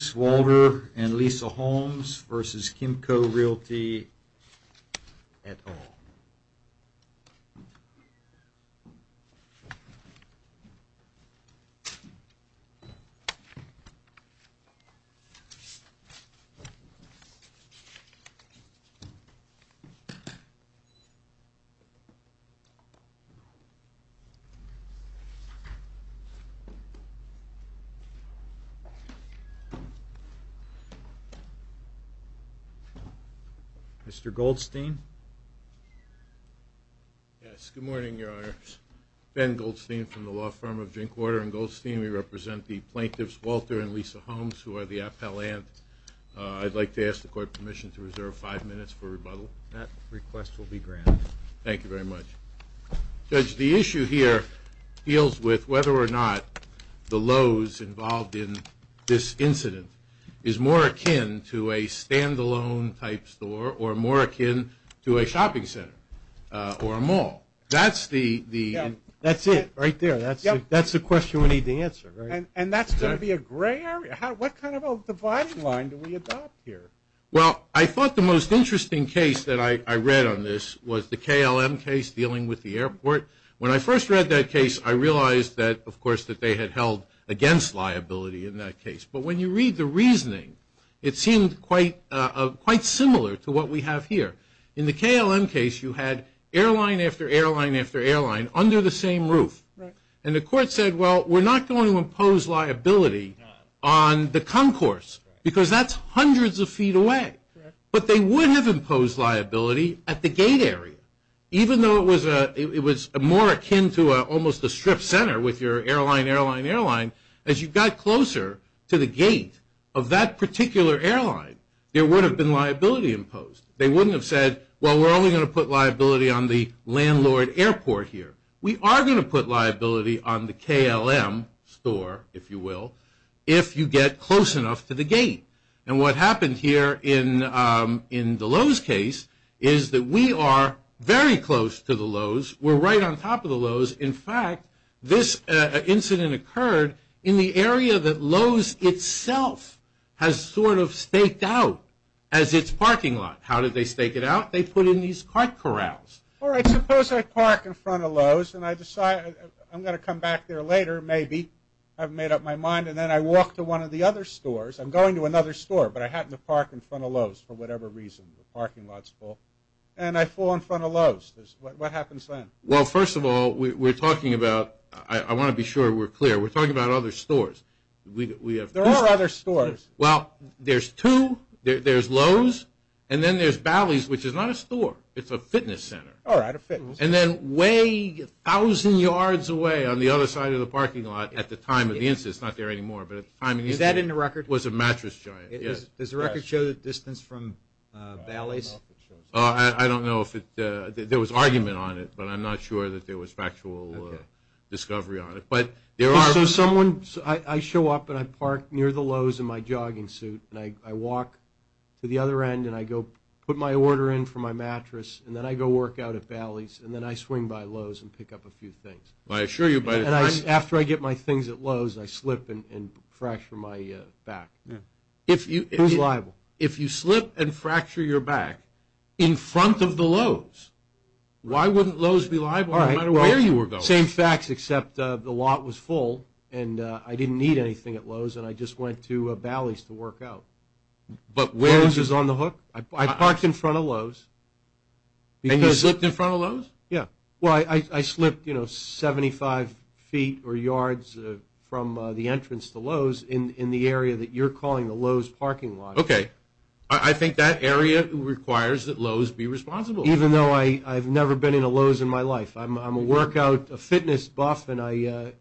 Ms. Walder and Lisa Holmes v. Kimco Realty, et al. Mr. Goldstein, yes, good morning, your honors. Ben Goldstein from the law firm of Drinkwater and Goldstein. We represent the plaintiffs, Walter and Lisa Holmes, who are the appellant. I'd like to ask the court permission to reserve five minutes for rebuttal. That request will be granted. Thank you very much. Judge, the issue here deals with whether or not the Lowe's involved in this incident is more akin to a stand-alone type store or more akin to a shopping center or a mall. That's the... Yeah, that's it right there. That's the question we need to answer, right? And that's going to be a gray area? What kind of a dividing line do we adopt here? Well, I thought the most interesting case that I read on this was the KLM case dealing with the airport. When I first read that case, I realized that, of course, that they had held against liability in that case. But when you read the reasoning, it seemed quite similar to what we have here. In the KLM case, you had airline after airline after airline under the same roof. And the court said, well, we're not going to impose liability on the concourse because that's hundreds of feet away. But they would have imposed liability at the gate area. Even though it was more akin to almost a strip center with your airline, airline, airline, as you got closer to the gate of that particular airline, there would have been liability imposed. They wouldn't have said, well, we're only going to put liability on the landlord airport here. We are going to put liability on the KLM store, if you will, if you get close enough to the gate. And what happened here in the Lowe's case is that we are very close to the Lowe's. We're right on top of the Lowe's. In fact, this incident occurred in the area that Lowe's itself has sort of staked out as its parking lot. How did they stake it out? They put in these cart corrals. All right. Suppose I park in front of Lowe's and I decide I'm going to come back there later maybe. I've made up my mind. And then I walk to one of the other stores. I'm going to another store. But I happen to park in front of Lowe's for whatever reason, the parking lot's full. And I fall in front of Lowe's. What happens then? Well, first of all, we're talking about, I want to be sure we're clear, we're talking about other stores. We have... There are other stores. Well, there's two. There's Lowe's. And then there's Bally's, which is not a store. It's a fitness center. All right. A fitness center. And then way, a thousand yards away on the other side of the parking lot at the time of the incident, it's not there anymore, but at the time of the incident... It's a mattress giant. Yes. Does the record show the distance from Bally's? I don't know if it... There was argument on it, but I'm not sure that there was factual discovery on it. But there are... So someone... I show up and I park near the Lowe's in my jogging suit and I walk to the other end and I go put my order in for my mattress and then I go work out at Bally's and then I swing by Lowe's and pick up a few things. I assure you by the time... If you... Who's liable? If you slip and fracture your back in front of the Lowe's, why wouldn't Lowe's be liable no matter where you were going? All right. Same facts, except the lot was full and I didn't need anything at Lowe's and I just went to Bally's to work out. But where... Lowe's is on the hook. I parked in front of Lowe's. And you slipped in front of Lowe's? Yeah. Well, I slipped 75 feet or yards from the entrance to Lowe's in the area that you're calling the Lowe's parking lot. Okay. I think that area requires that Lowe's be responsible. Even though I've never been in a Lowe's in my life. I'm a workout, a fitness buff, and I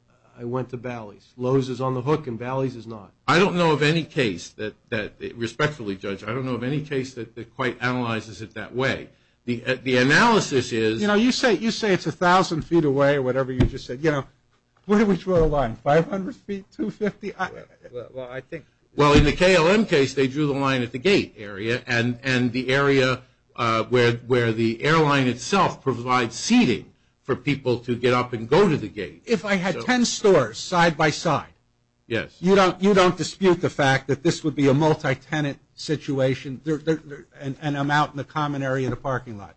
went to Bally's. Lowe's is on the hook and Bally's is not. I don't know of any case that, respectfully, Judge, I don't know of any case that quite analyzes it that way. The analysis is... You know, you say it's 1,000 feet away or whatever you just said, you know, where do we draw the line? 500 feet, 250? Well, I think... Well, in the KLM case, they drew the line at the gate area and the area where the airline itself provides seating for people to get up and go to the gate. If I had 10 stores side-by-side, you don't dispute the fact that this would be a multi-tenant situation and I'm out in the common area of the parking lot.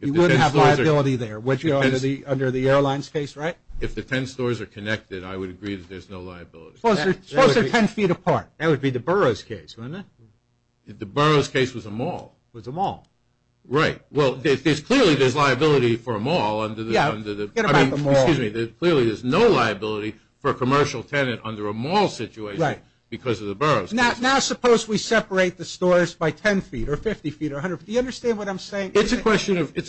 You wouldn't have liability there, would you, under the airline's case, right? If the 10 stores are connected, I would agree that there's no liability. Suppose they're 10 feet apart. That would be the borough's case, wouldn't it? The borough's case was a mall. Was a mall. Right. Well, clearly, there's liability for a mall under the... Yeah, forget about the mall. Excuse me. Clearly, there's no liability for a commercial tenant under a mall situation because of the borough's case. Now, suppose we separate the stores by 10 feet or 50 feet or 100 feet. Do you understand what I'm saying? It's a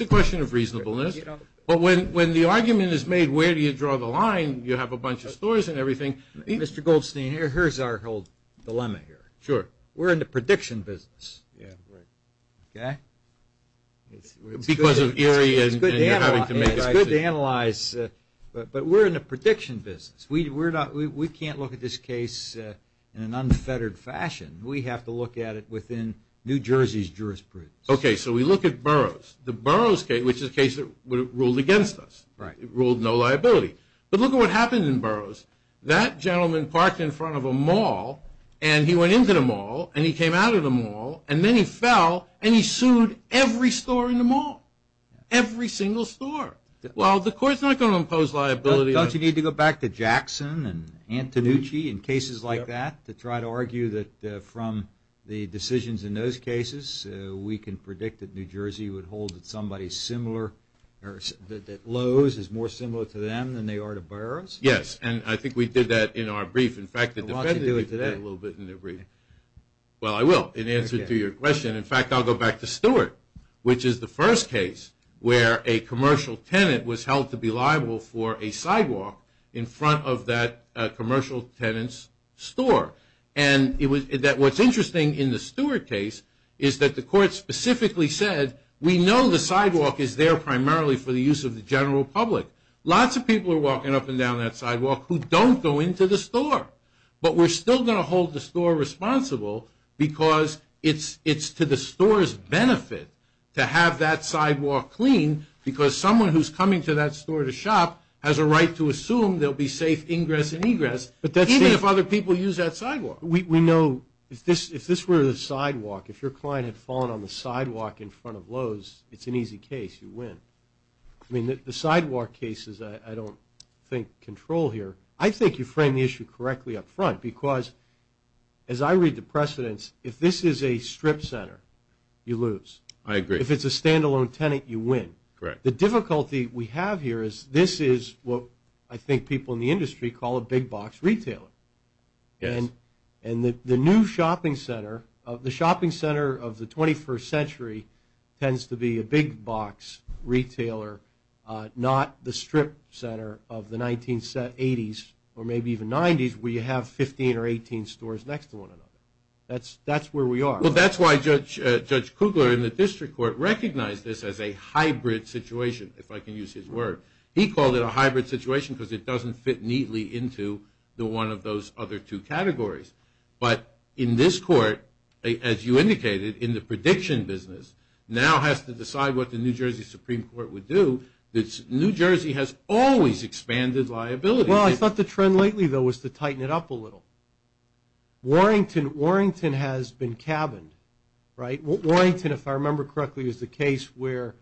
question of reasonableness, but when the argument is made, where do you draw the Mr. Goldstein, here's our whole dilemma here. Sure. We're in the prediction business. Yeah, right. Okay? It's good to analyze, but we're in the prediction business. We can't look at this case in an unfettered fashion. We have to look at it within New Jersey's jurisprudence. Okay, so we look at boroughs. The borough's case, which is a case that ruled against us. Right. It ruled no liability. But look at what happened in boroughs. That gentleman parked in front of a mall, and he went into the mall, and he came out of the mall, and then he fell, and he sued every store in the mall. Every single store. Well, the court's not going to impose liability on... Don't you need to go back to Jackson and Antonucci and cases like that to try to argue that from the decisions in those cases, we can predict that New Jersey would hold that somebody similar... that Lowe's is more similar to them than they are to boroughs? Yes, and I think we did that in our brief. In fact, the defendant... Well, why don't you do it today? Well, I will, in answer to your question. In fact, I'll go back to Stewart, which is the first case where a commercial tenant was held to be liable for a sidewalk in front of that commercial tenant's store. What's interesting in the Stewart case is that the court specifically said, we know the sidewalk is there primarily for the use of the general public. Lots of people are walking up and down that sidewalk who don't go into the store, but we're still going to hold the store responsible because it's to the store's benefit to have that sidewalk clean because someone who's coming to that store to shop has a right to assume there'll be safe ingress and egress, even if other people use that sidewalk. We know if this were the sidewalk, if your client had fallen on the sidewalk in front of Lowe's, it's an easy case. You win. I mean, the sidewalk case is, I don't think, control here. I think you frame the issue correctly up front because, as I read the precedents, if this is a strip center, you lose. I agree. If it's a standalone tenant, you win. Correct. The difficulty we have here is this is what I think people in the industry call a big box retailer. Yes. And the new shopping center, the shopping center of the 21st century tends to be a big box retailer, not the strip center of the 1980s or maybe even 90s where you have 15 or 18 stores next to one another. That's where we are. Well, that's why Judge Kugler in the district court recognized this as a hybrid situation, if I can use his word. He called it a hybrid situation because it doesn't fit neatly into one of those other two categories. But in this court, as you indicated, in the prediction business, now has to decide what the New Jersey Supreme Court would do. New Jersey has always expanded liability. Well, I thought the trend lately, though, was to tighten it up a little. Warrington has been cabined, right? Warrington, if I remember correctly, is the case where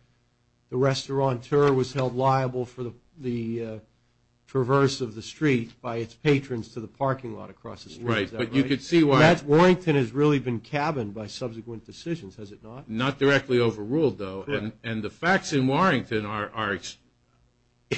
the restaurateur was held liable for the traverse of the street by its patrons to the parking lot across the street. Right. But you could see why. Warrington has really been cabined by subsequent decisions, has it not? Not directly overruled, though. And the facts in Warrington are,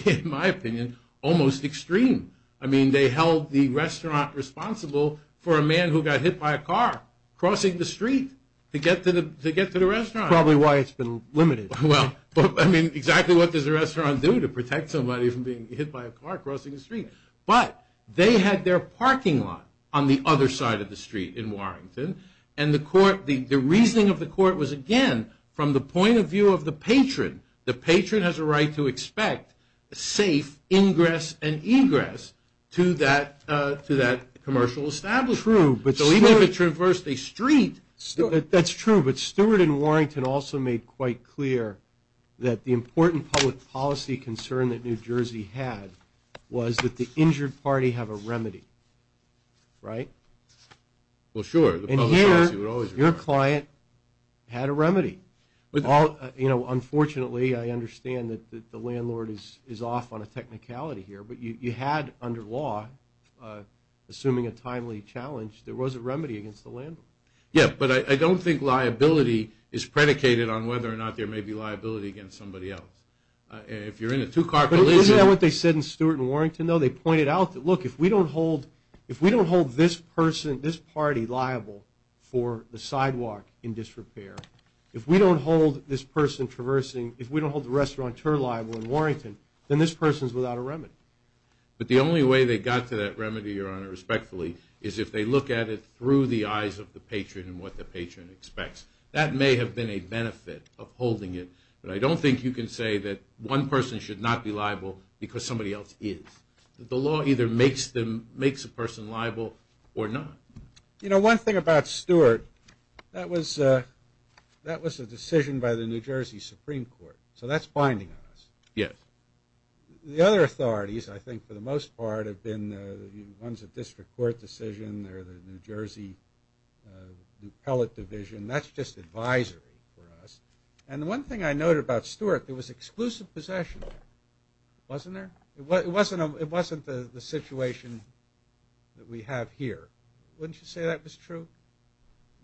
in my opinion, almost extreme. I mean, they held the restaurant responsible for a man who got hit by a car crossing the street to get to the restaurant. Probably why it's been limited. Well, I mean, exactly what does a restaurant do to protect somebody from being hit by a car crossing the street? And the reasoning of the court was, again, from the point of view of the patron. The patron has a right to expect a safe ingress and egress to that commercial establishment. True. But so even if it traversed a street... That's true. But Stewart and Warrington also made quite clear that the important public policy concern that New Jersey had was that the injured party have a remedy. Right? Well, sure. The public policy would always require it. And here, your client had a remedy. Unfortunately, I understand that the landlord is off on a technicality here, but you had, under law, assuming a timely challenge, there was a remedy against the landlord. Yeah, but I don't think liability is predicated on whether or not there may be liability against somebody else. If you're in a two-car collision... Isn't that what they said in Stewart and Warrington, though? Well, they pointed out that, look, if we don't hold this party liable for the sidewalk in disrepair, if we don't hold this person traversing, if we don't hold the restaurateur liable in Warrington, then this person's without a remedy. But the only way they got to that remedy, Your Honor, respectfully, is if they look at it through the eyes of the patron and what the patron expects. That may have been a benefit of holding it, but I don't think you can say that one person should not be liable because somebody else is. The law either makes a person liable or not. You know, one thing about Stewart, that was a decision by the New Jersey Supreme Court. So that's binding on us. Yes. The other authorities, I think, for the most part, have been ones of district court decision or the New Jersey appellate division. That's just advisory for us. And the one thing I noted about Stewart, there was exclusive possession. Wasn't there? It wasn't the situation that we have here. Wouldn't you say that was true?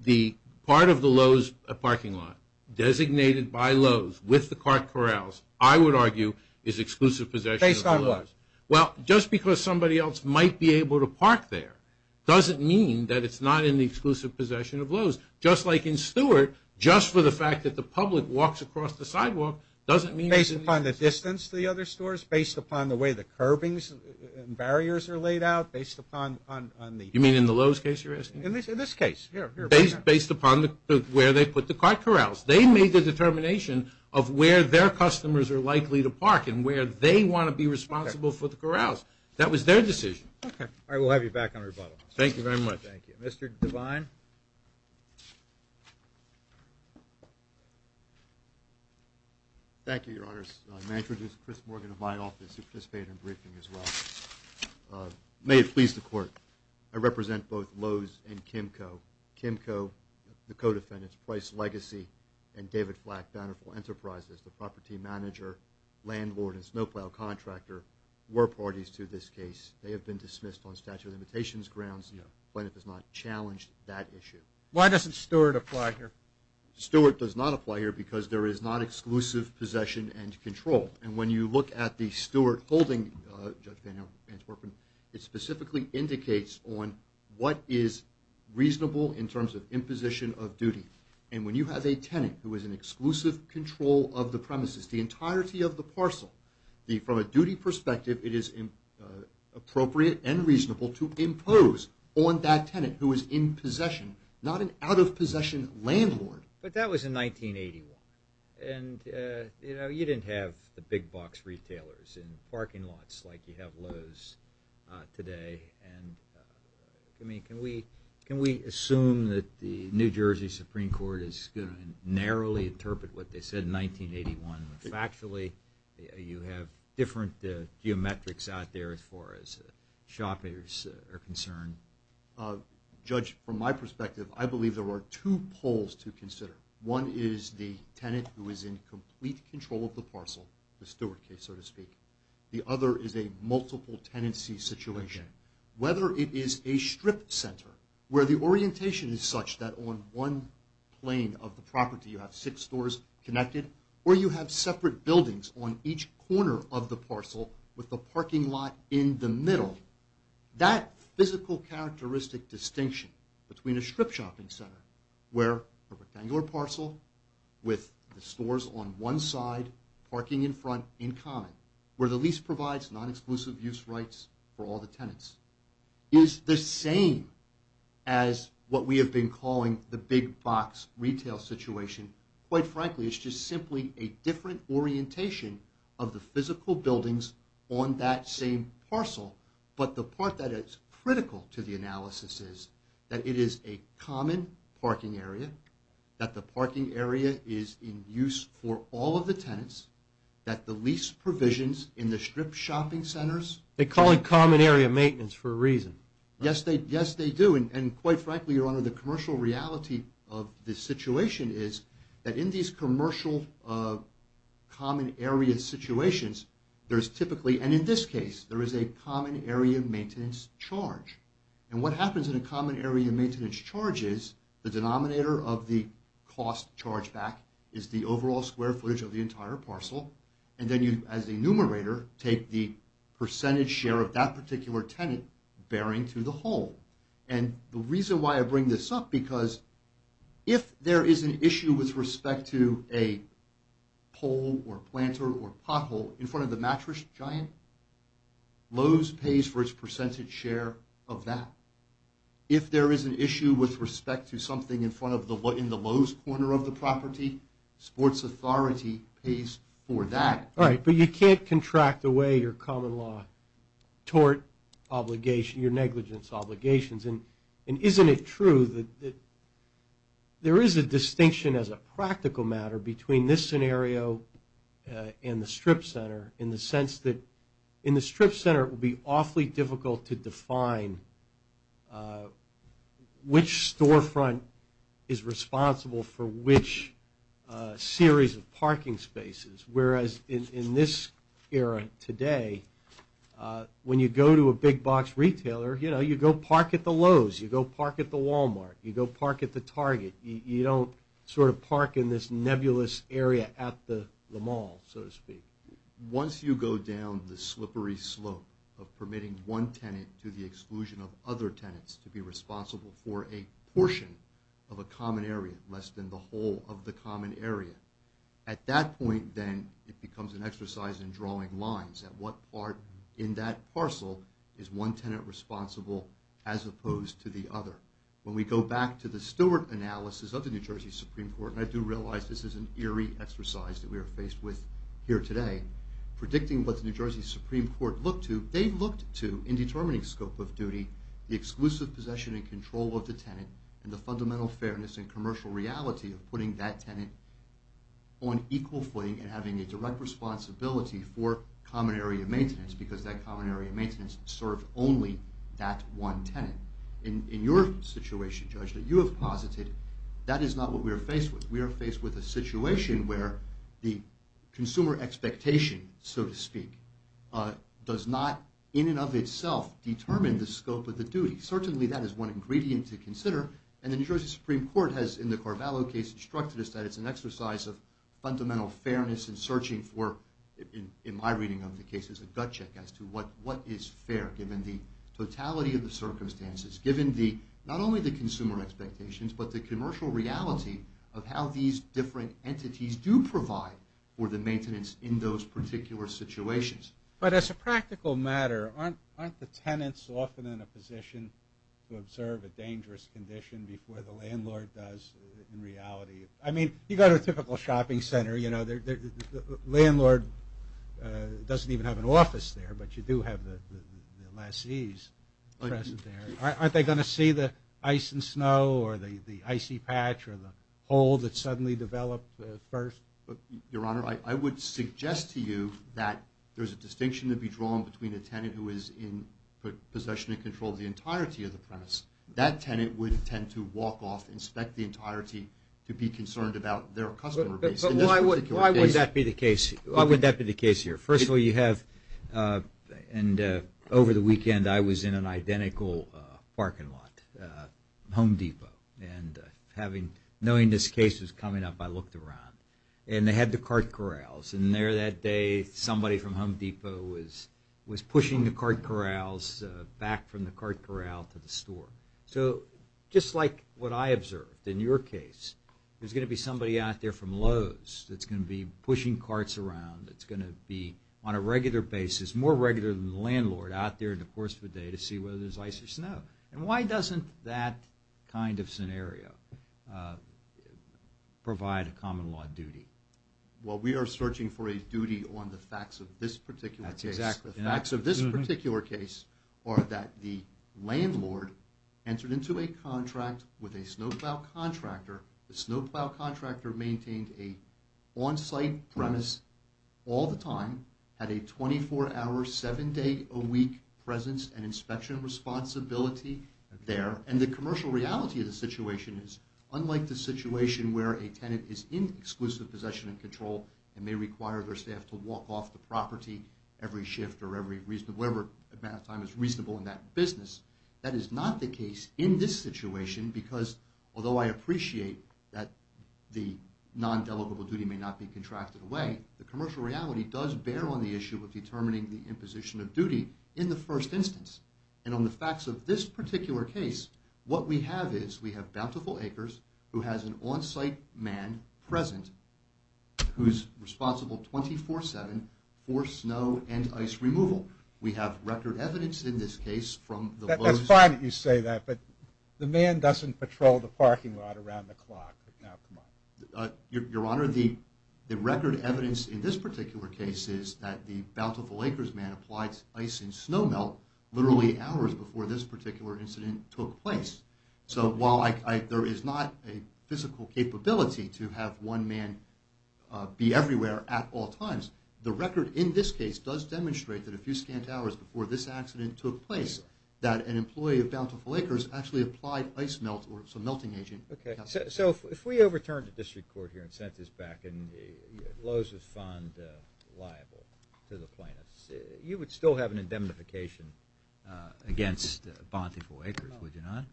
The part of the Lowe's parking lot designated by Lowe's with the cart corrals, I would argue, is exclusive possession of the Lowe's. Based on what? Well, just because somebody else might be able to park there doesn't mean that it's not in the exclusive possession of Lowe's. Just like in Stewart, just for the fact that the public walks across the sidewalk doesn't mean Based upon the distance to the other stores? Based upon the way the curbings and barriers are laid out? Based upon on the You mean in the Lowe's case you're asking? In this case. Based upon where they put the cart corrals. They made the determination of where their customers are likely to park and where they want to be responsible for the corrals. That was their decision. Okay. All right, we'll have you back on rebuttal. Thank you very much. Thank you. Mr. Devine? Thank you, your honors. May I introduce Chris Morgan of my office who participated in the briefing as well. May it please the court. I represent both Lowe's and Kimco. Kimco, the co-defendants, Price Legacy and David Flack, Bountiful Enterprises, the property manager, landlord, and snowplow contractor, were parties to this case. They have been dismissed on statute of limitations grounds. Plaintiff has not challenged that issue. Why doesn't Stewart apply here? Stewart does not apply here because there is not exclusive possession and control. And when you look at the Stewart holding, Judge Bantorp, it specifically indicates on what is reasonable in terms of imposition of duty. And when you have a tenant who is in exclusive control of the premises, the entirety of the parcel, from a duty perspective it is appropriate and reasonable to impose on that tenant who is in possession, not an out-of-possession landlord. But that was in 1981. And, you know, you didn't have the big box retailers in parking lots like you have Lowe's today. And, I mean, can we assume that the New Jersey Supreme Court is going to narrowly interpret what they said in 1981? Factually, you have different geometrics out there as far as shoppers are concerned. Judge, from my perspective, I believe there are two poles to consider. One is the tenant who is in complete control of the parcel, the Stewart case, so to speak. The other is a multiple tenancy situation. Whether it is a strip center, where the orientation is such that on one plane of the property you have six stores connected, or you have separate buildings on each corner of the parcel with the parking lot in the middle, that physical characteristic distinction between a strip shopping center where a rectangular parcel with the stores on one side, parking in front, in common, where the lease provides non-exclusive use rights for all the tenants, is the same as what we have been calling the big box retail situation. Quite frankly, it's just simply a different orientation of the physical buildings on that same parcel. But the part that is critical to the analysis is that it is a common parking area, that the parking area is in use for all of the tenants, that the lease provisions in the strip shopping centers... They call it common area maintenance for a reason. Yes, they do. And quite frankly, Your Honor, the commercial reality of this situation is that in these commercial common area situations, there is typically, and in this case, there is a common area maintenance charge. And what happens in a common area maintenance charge is the denominator of the cost charged back is the overall square footage of the entire parcel, and then you, as a numerator, take the percentage share of that particular tenant bearing to the whole. And the reason why I bring this up, because if there is an issue with respect to a pole or planter or pothole in front of the mattress giant, Lowe's pays for its percentage share of that. If there is an issue with respect to something in the Lowe's corner of the property, Sports Authority pays for that. All right, but you can't contract away your common law tort obligation, your negligence obligations. And isn't it true that there is a distinction as a practical matter between this scenario and the Strip Center in the sense that in the Strip Center, it would be awfully difficult to define which storefront is responsible for which series of parking spaces, whereas in this era today, when you go to a big box retailer, you know, you go park at the Lowe's, you go park at the Walmart, you go park at the Target. You don't sort of park in this nebulous area at the mall, so to speak. Once you go down the slippery slope of permitting one tenant to the exclusion of other tenants to be responsible for a portion of a common area, less than the whole of the common area, at that point, then, it becomes an exercise in drawing lines at what part in that parcel is one tenant responsible as opposed to the other. When we go back to the Stewart analysis of the New Jersey Supreme Court, and I do realize this is an eerie exercise that we are faced with here today, predicting what the New Jersey Supreme Court looked to, they looked to, in determining scope of duty, the exclusive possession and control of the tenant, and the fundamental fairness and commercial reality of putting that tenant on equal footing and having a direct responsibility for common area maintenance, because that common area maintenance served only that one tenant. In your situation, Judge, that you have posited, that is not what we are faced with. We are faced with a situation where the consumer expectation, so to speak, does not in and of itself determine the scope of the duty. Certainly that is one ingredient to consider, and the New Jersey Supreme Court has, in the Carvalho case, instructed us that it's an exercise of fundamental fairness in searching for, in my reading of the case, as a gut check as to what is fair, given the totality of the circumstances, given not only the consumer expectations, but the commercial reality of how these different entities do provide for the maintenance in those particular situations. But as a practical matter, aren't the tenants often in a position to observe a dangerous condition before the landlord does in reality? I mean, you go to a typical shopping center, you know, the landlord doesn't even have an office there, but you do have the lessees present there. Aren't they going to see the ice and snow or the icy patch or the hole that suddenly developed first? Your Honor, I would suggest to you that there's a distinction to be drawn between a tenant who is in possession and in control of the entirety of the premise. That tenant would tend to walk off and inspect the entirety to be concerned about their customer base. But why would that be the case here? Firstly, you have... And over the weekend, I was in an identical parking lot, Home Depot, and knowing this case was coming up, I looked around. And they had the cart corrals. And there that day, somebody from Home Depot was pushing the cart corrals back from the cart corral to the store. So just like what I observed, in your case, there's going to be somebody out there from Lowe's that's going to be pushing carts around, that's going to be on a regular basis, more regular than the landlord, out there in the course of the day to see whether there's ice or snow. And why doesn't that kind of scenario provide a common law duty? Well, we are searching for a duty on the facts of this particular case. That's exactly right. The facts of this particular case are that the landlord entered into a contract with a snowplow contractor. The snowplow contractor maintained an on-site premise all the time, had a 24-hour, 7-day-a-week presence and inspection responsibility there. And the commercial reality of the situation is unlike the situation where a tenant is in exclusive possession and control and may require their staff to walk off the property every shift or whatever amount of time is reasonable in that business, that is not the case in this situation because, although I appreciate that the non-delegable duty may not be contracted away, the commercial reality does bear on the issue of determining the imposition of duty in the first instance. And on the facts of this particular case, what we have is, we have Bountiful Acres who has an on-site man present who's responsible 24-7 for snow and ice removal. We have record evidence in this case from the... That's fine that you say that, but the man doesn't patrol the parking lot around the clock. Your Honor, the record evidence in this particular case is that the Bountiful Acres man applied ice and snow melt literally hours before this particular incident took place. So, while there is not a physical capability to have one man be everywhere at all times, the record in this case does demonstrate that a few scant hours before this accident took place, that an employee of Bountiful Acres actually applied ice melt or some melting agent. So, if we overturned the District Court here and sent this back and Lowe's was found liable to the plaintiffs, you would against Bountiful Acres, would you not?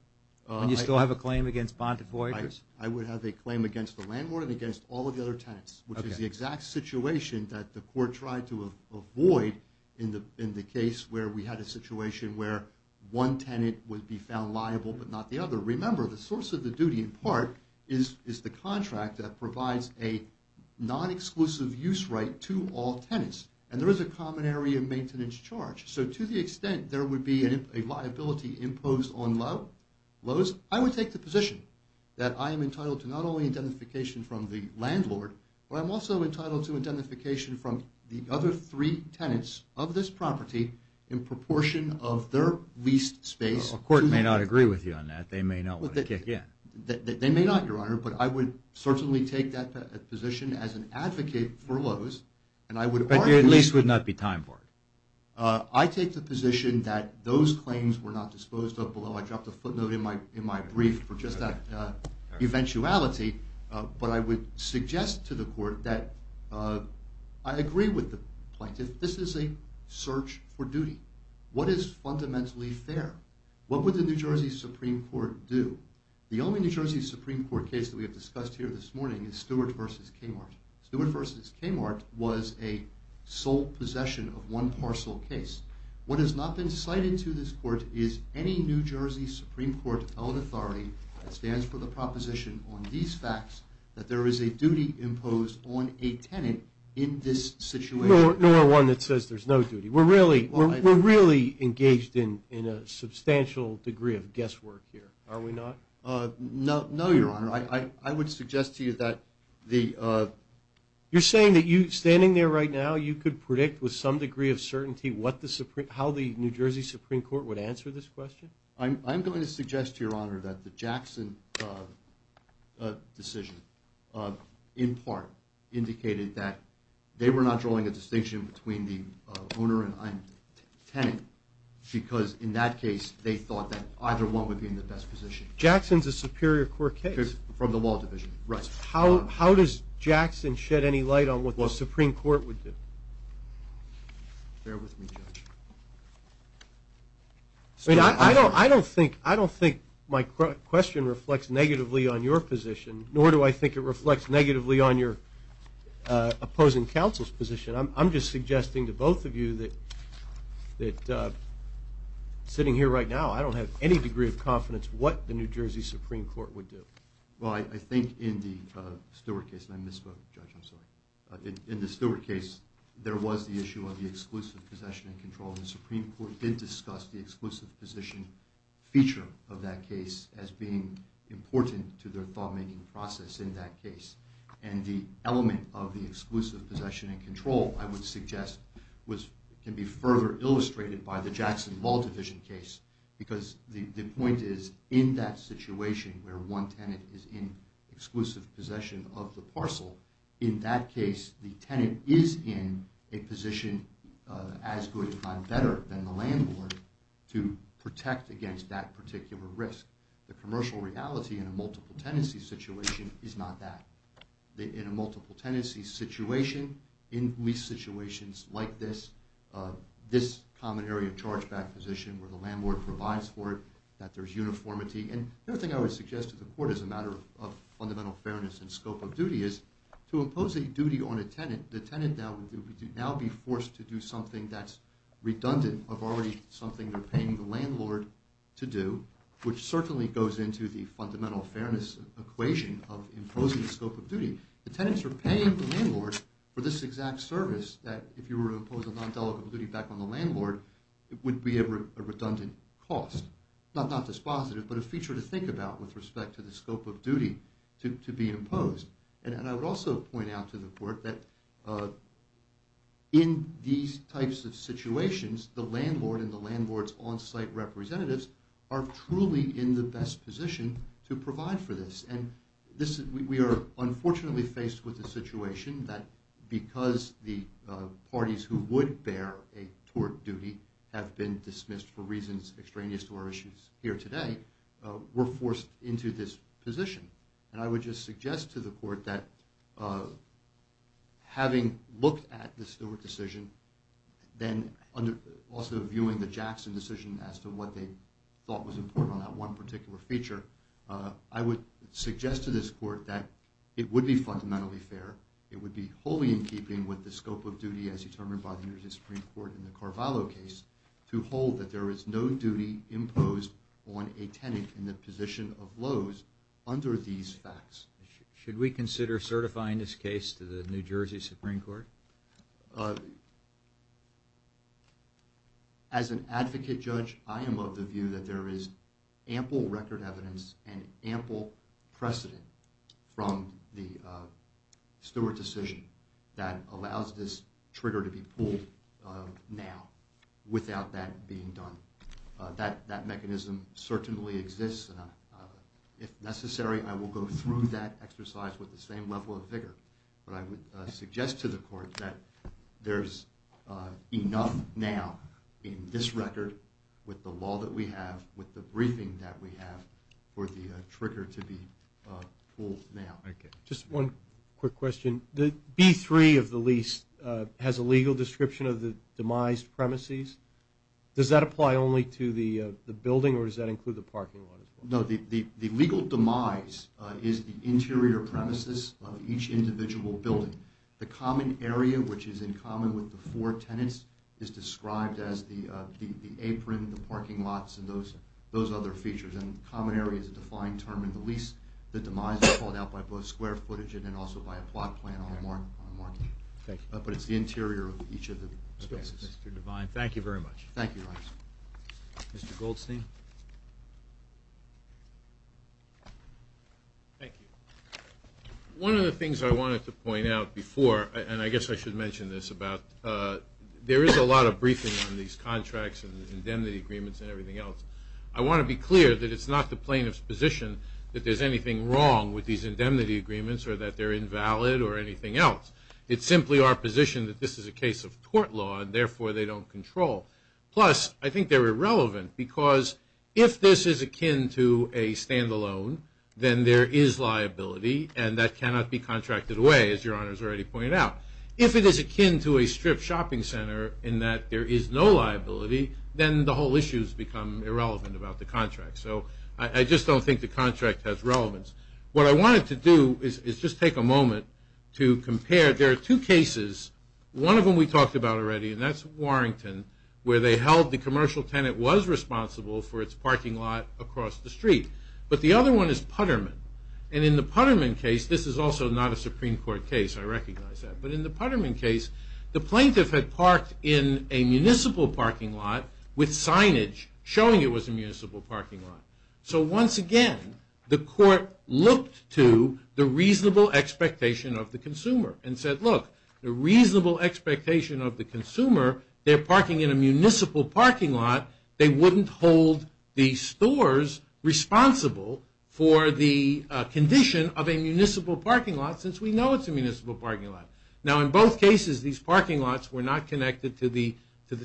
Would you still have a claim against Bountiful Acres? I would have a claim against the landlord and against all of the other tenants, which is the exact situation that the Court tried to avoid in the case where we had a situation where one tenant would be found liable, but not the other. Remember, the source of the duty, in part, is the contract that provides a non-exclusive use right to all tenants. And there is a common area maintenance charge. So, to the extent there would be a liability imposed on this property, I would take the position that I am entitled to not only identification from the landlord, but I'm also entitled to identification from the other three tenants of this property in proportion of their leased space. The Court may not agree with you on that. They may not want to kick in. They may not, Your Honor, but I would certainly take that position as an advocate for Lowe's, and I would argue... But you at least would not be time-borne. I take the position that those would affect eventuality, but I would suggest to the Court that I agree with the plaintiff. This is a search for duty. What is fundamentally fair? What would the New Jersey Supreme Court do? The only New Jersey Supreme Court case that we have discussed here this morning is Stewart v. Kmart. Stewart v. Kmart was a sole possession of one parcel case. What has not been cited to this Court is any New Jersey Supreme Court held authority that stands for the proposition on these facts that there is a duty imposed on a tenant in this situation. Nor one that says there's no duty. We're really engaged in a substantial degree of guesswork here, are we not? No, Your Honor. I would suggest to you that the... You're saying that you, standing there right now, you could predict with some degree of certainty how the New Jersey Supreme Court would answer this question? I'm going to suggest to Your Honor that the Jackson decision in part indicated that they were not drawing a distinction between the owner and tenant because in that case they thought that either one would be in the best position. Jackson's a Superior Court case. From the Law Division. Right. How does Jackson shed any light on what the Supreme Court would do? Bear with me, Judge. I don't think my question reflects negatively on your position, nor do I think it reflects negatively on your opposing counsel's position. I'm just suggesting to both of you that sitting here right now, I don't have any degree of confidence what the New Jersey Supreme Court would do. Well, I think in the Stuart case, and I misspoke, Judge, I'm sorry. In the Stuart case, there was the issue of the exclusive possession and control and the Supreme Court did discuss the exclusive possession feature of that case as being important to their thought-making process in that case. And the element of the exclusive possession and control, I would suggest, can be further illustrated by the Jackson Law Division case because the point is, in that situation where one tenant is in exclusive possession of the parcel, in that case the tenant is in a position as good and better than the landlord to protect against that particular risk. The commercial reality in a multiple tenancy situation is not that. In a multiple tenancy situation, in least situations like this, this common area chargeback position where the landlord provides for it, that there's uniformity, and the other thing I would suggest to the Court as a matter of fundamental fairness and scope of duty is, to impose a duty on the tenant, the tenant would now be forced to do something that's redundant of already something they're paying the landlord to do, which certainly goes into the fundamental fairness equation of imposing a scope of duty. The tenants are paying the landlord for this exact service that, if you were to impose a non-delegable duty back on the landlord, it would be a redundant cost. Not dispositive, but a feature to think about with respect to the scope of duty to be imposed. And I would also point out to the Court that in these types of situations, the landlord and the landlord's on-site representatives are truly in the best position to provide for this. We are unfortunately faced with a situation that, because the parties who would bear a tort duty have been dismissed for reasons extraneous to our issues here today, were forced into this position. And I would just suggest to the Court that having looked at the Stewart decision, also viewing the Jackson decision as to what they thought was important on that one particular feature, I would suggest to this Court that it would be fundamentally fair, it would be wholly in keeping with the scope of duty as determined by the New Jersey Supreme Court in the Carvalho case, to hold that there is no duty imposed on a tenant in the interest of these facts. Should we consider certifying this case to the New Jersey Supreme Court? As an advocate judge, I am of the view that there is ample record evidence and ample precedent from the Stewart decision that allows this trigger to be pulled now, without that being done. That mechanism certainly exists and if necessary, I will go through that exercise with the same level of vigor. But I would suggest to the Court that there's enough now in this record with the law that we have, with the briefing that we have, for the trigger to be pulled now. Just one quick question. The B-3 of the lease has a legal description of the demised premises. Does that apply only to the No, the legal demise is the interior premises of each individual building. The common area, which is in common with the four tenants, is described as the apron, the parking lots, and those other features. And common area is a defined term in the lease. The demise is called out by both square footage and then also by a plot plan on the market. But it's the interior of each of the spaces. Mr. Devine, thank you very much. Thank you. Mr. Goldstein? Thank you. One of the things I wanted to point out before, and I guess I should mention this, about there is a lot of briefing on these contracts and these indemnity agreements and everything else. I want to be clear that it's not the plaintiff's position that there's anything wrong with these indemnity agreements or that they're invalid or anything else. It's simply our position that this is a case of tort law and therefore they don't control. Plus, I think they're irrelevant because if this is akin to a stand-alone, then there is liability and that cannot be contracted away, as Your Honor has already pointed out. If it is akin to a strip shopping center in that there is no liability, then the whole issue has become irrelevant about the contract. So I just don't think the contract has relevance. What I wanted to do is just take a moment to compare. There are two cases. One of them we talked about already, and that's Warrington, where they held the commercial tenant was responsible for its parking lot across the street. But the other one is Putterman. And in the Putterman case, this is also not a Supreme Court case, I recognize that. But in the Putterman case, the plaintiff had parked in a municipal parking lot with signage showing it was a municipal parking lot. So once again, the court looked to the reasonable expectation of the consumer and said, look, the reasonable expectation of the consumer, they're parking in a municipal parking lot, they wouldn't hold the stores responsible for the condition of a municipal parking lot, since we know it's a municipal parking lot. Now in both cases, these parking lots were not connected to the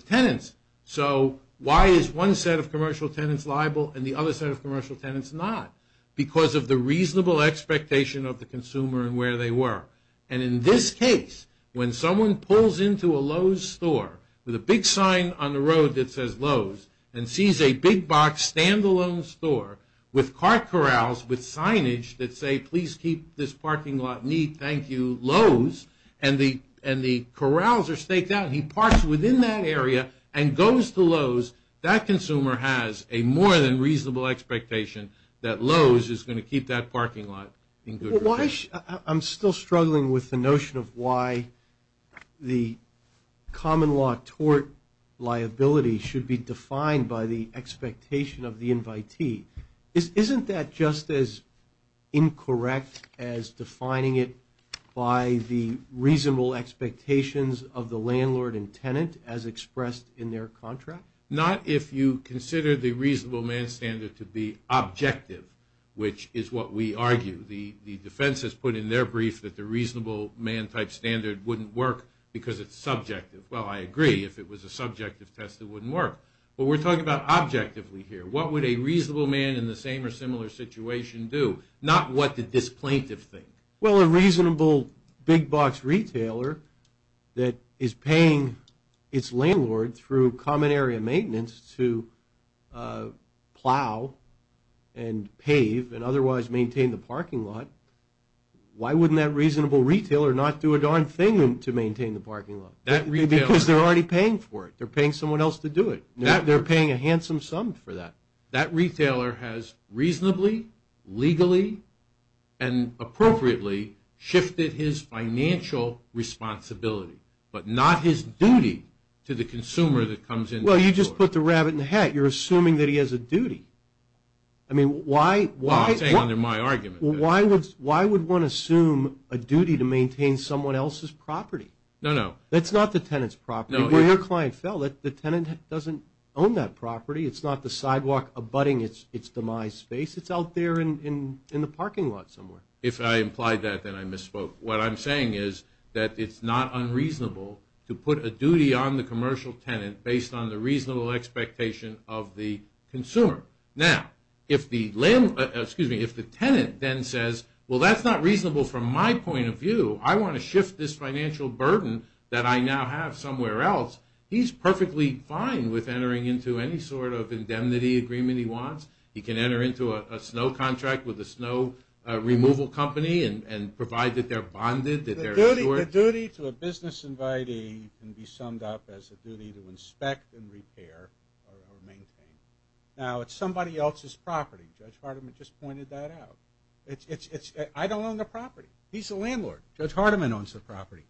tenants. So why is one set of commercial tenants liable and the other set of commercial tenants not? Because of the reasonable expectation of the consumer and where they were. And in this case, when someone pulls into a Lowe's store with a big sign on the road that says Lowe's and sees a big box stand-alone store with car corrals with signage that say, please keep this parking lot neat, thank you, Lowe's, and the corrals are staked out and he parks within that area and goes to Lowe's, that consumer has a more than reasonable expectation that Lowe's is going to keep that parking lot in good condition. I'm still struggling with the notion of why the common law tort liability should be defined by the expectation of the invitee. Isn't that just as incorrect as defining it by the reasonable expectations of the landlord and tenant as expressed in their contract? Not if you consider the reasonable man standard to be objective, which is what we argue. The defense has put in their brief that the reasonable man type standard wouldn't work because it's subjective. Well, I agree. If it was a subjective test, it wouldn't work. But we're talking about objectively here. What would a reasonable man in the same or similar situation do? Not what did this plaintiff think. Well, a reasonable big box retailer that is paying its landlord through common area maintenance to plow and pave and otherwise maintain the parking lot, why wouldn't that reasonable retailer not do a darn thing to maintain the parking lot? Because they're already paying for it. They're paying someone else to do it. They're paying a handsome sum for that. That retailer has reasonably, legally and appropriately shifted his financial responsibility, but not his duty to the consumer that comes in. Well, you just put the rabbit in the hat. You're assuming that he has a duty. I mean, why Why would one assume a duty to maintain someone else's property? No, no. That's not the tenant's property. Where your client fell, the tenant doesn't own that property. It's not the sidewalk abutting its demise space. It's out there in the parking lot somewhere. If I implied that, then I misspoke. What I'm saying is that it's not unreasonable to put a duty on the commercial tenant based on the reasonable expectation of the consumer. Now, if the tenant then says, well, that's not reasonable from my point of view. I want to shift this financial burden that I now have somewhere else. He's perfectly fine with entering into any sort of indemnity agreement he wants. He can enter into a snow contract with a snow removal company and provide that they're bonded. The duty to a business can be summed up as a duty to inspect and repair or maintain. Now, it's somebody else's property. Judge Hardiman just pointed that out. I don't own the property. He's the landlord. Judge Hardiman owns the property.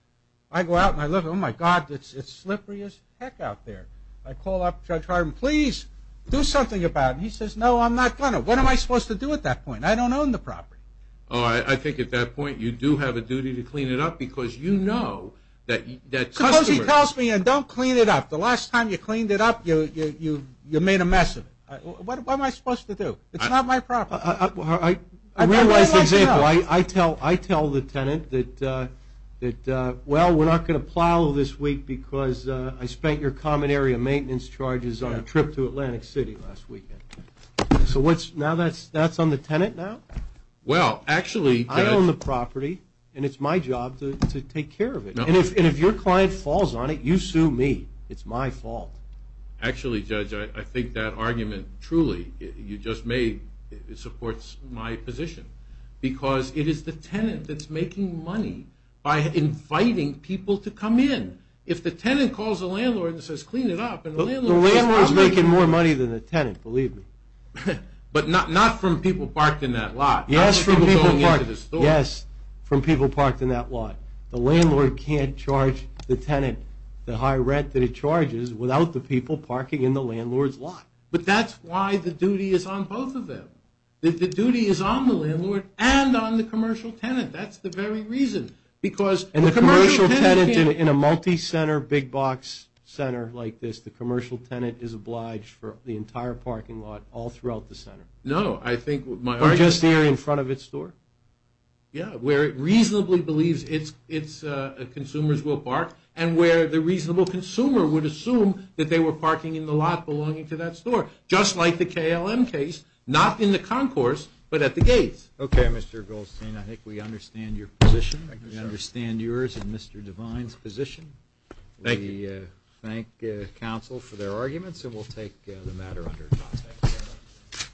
I go out and I look. Oh my god, it's slippery as heck out there. I call up Judge Hardiman. Please do something about it. He says, no, I'm not going to. What am I supposed to do at that point? I don't own the property. I think at that point you do have a duty to clean it up because you know that customers... Suppose he tells me, and don't clean it up. The last time you cleaned it up you made a mess of it. What am I supposed to do? It's not my property. I realize the example. I tell the tenant that well, we're not going to plow this week because I spent your common area maintenance charges on a trip to Atlantic City last weekend. Now that's on the tenant now? Well, actually... I own the property and it's my job to take care of it. And if your client falls on it, you sue me. It's my fault. Actually, Judge, I think that argument, truly, you just made supports my position. Because it is the tenant that's making money by inviting people to come in. If the tenant calls the landlord and says, clean it up... The landlord's making more money than the tenant, believe me. But not from people parked in that lot. Yes, from people parked in that lot. The landlord can't charge the tenant the high rent that it charges without the people parking in the landlord's lot. But that's why the duty is on both of them. The duty is on the landlord and on the commercial tenant. That's the very reason. And the commercial tenant in a multi-center, big box center like this, the commercial tenant is obliged for the entire parking lot all throughout the center. No, I think my argument... Or just the area in front of its store? Yeah, where it reasonably believes its consumers will park, and where the reasonable consumer would assume that they were parking in the lot belonging to that store. Just like the KLM case, not in the concourse, but at the gates. Okay, Mr. Goldstein, I think we understand your position. We understand yours and Mr. Devine's position. Thank you. We thank counsel for their arguments, and we'll take the matter under context.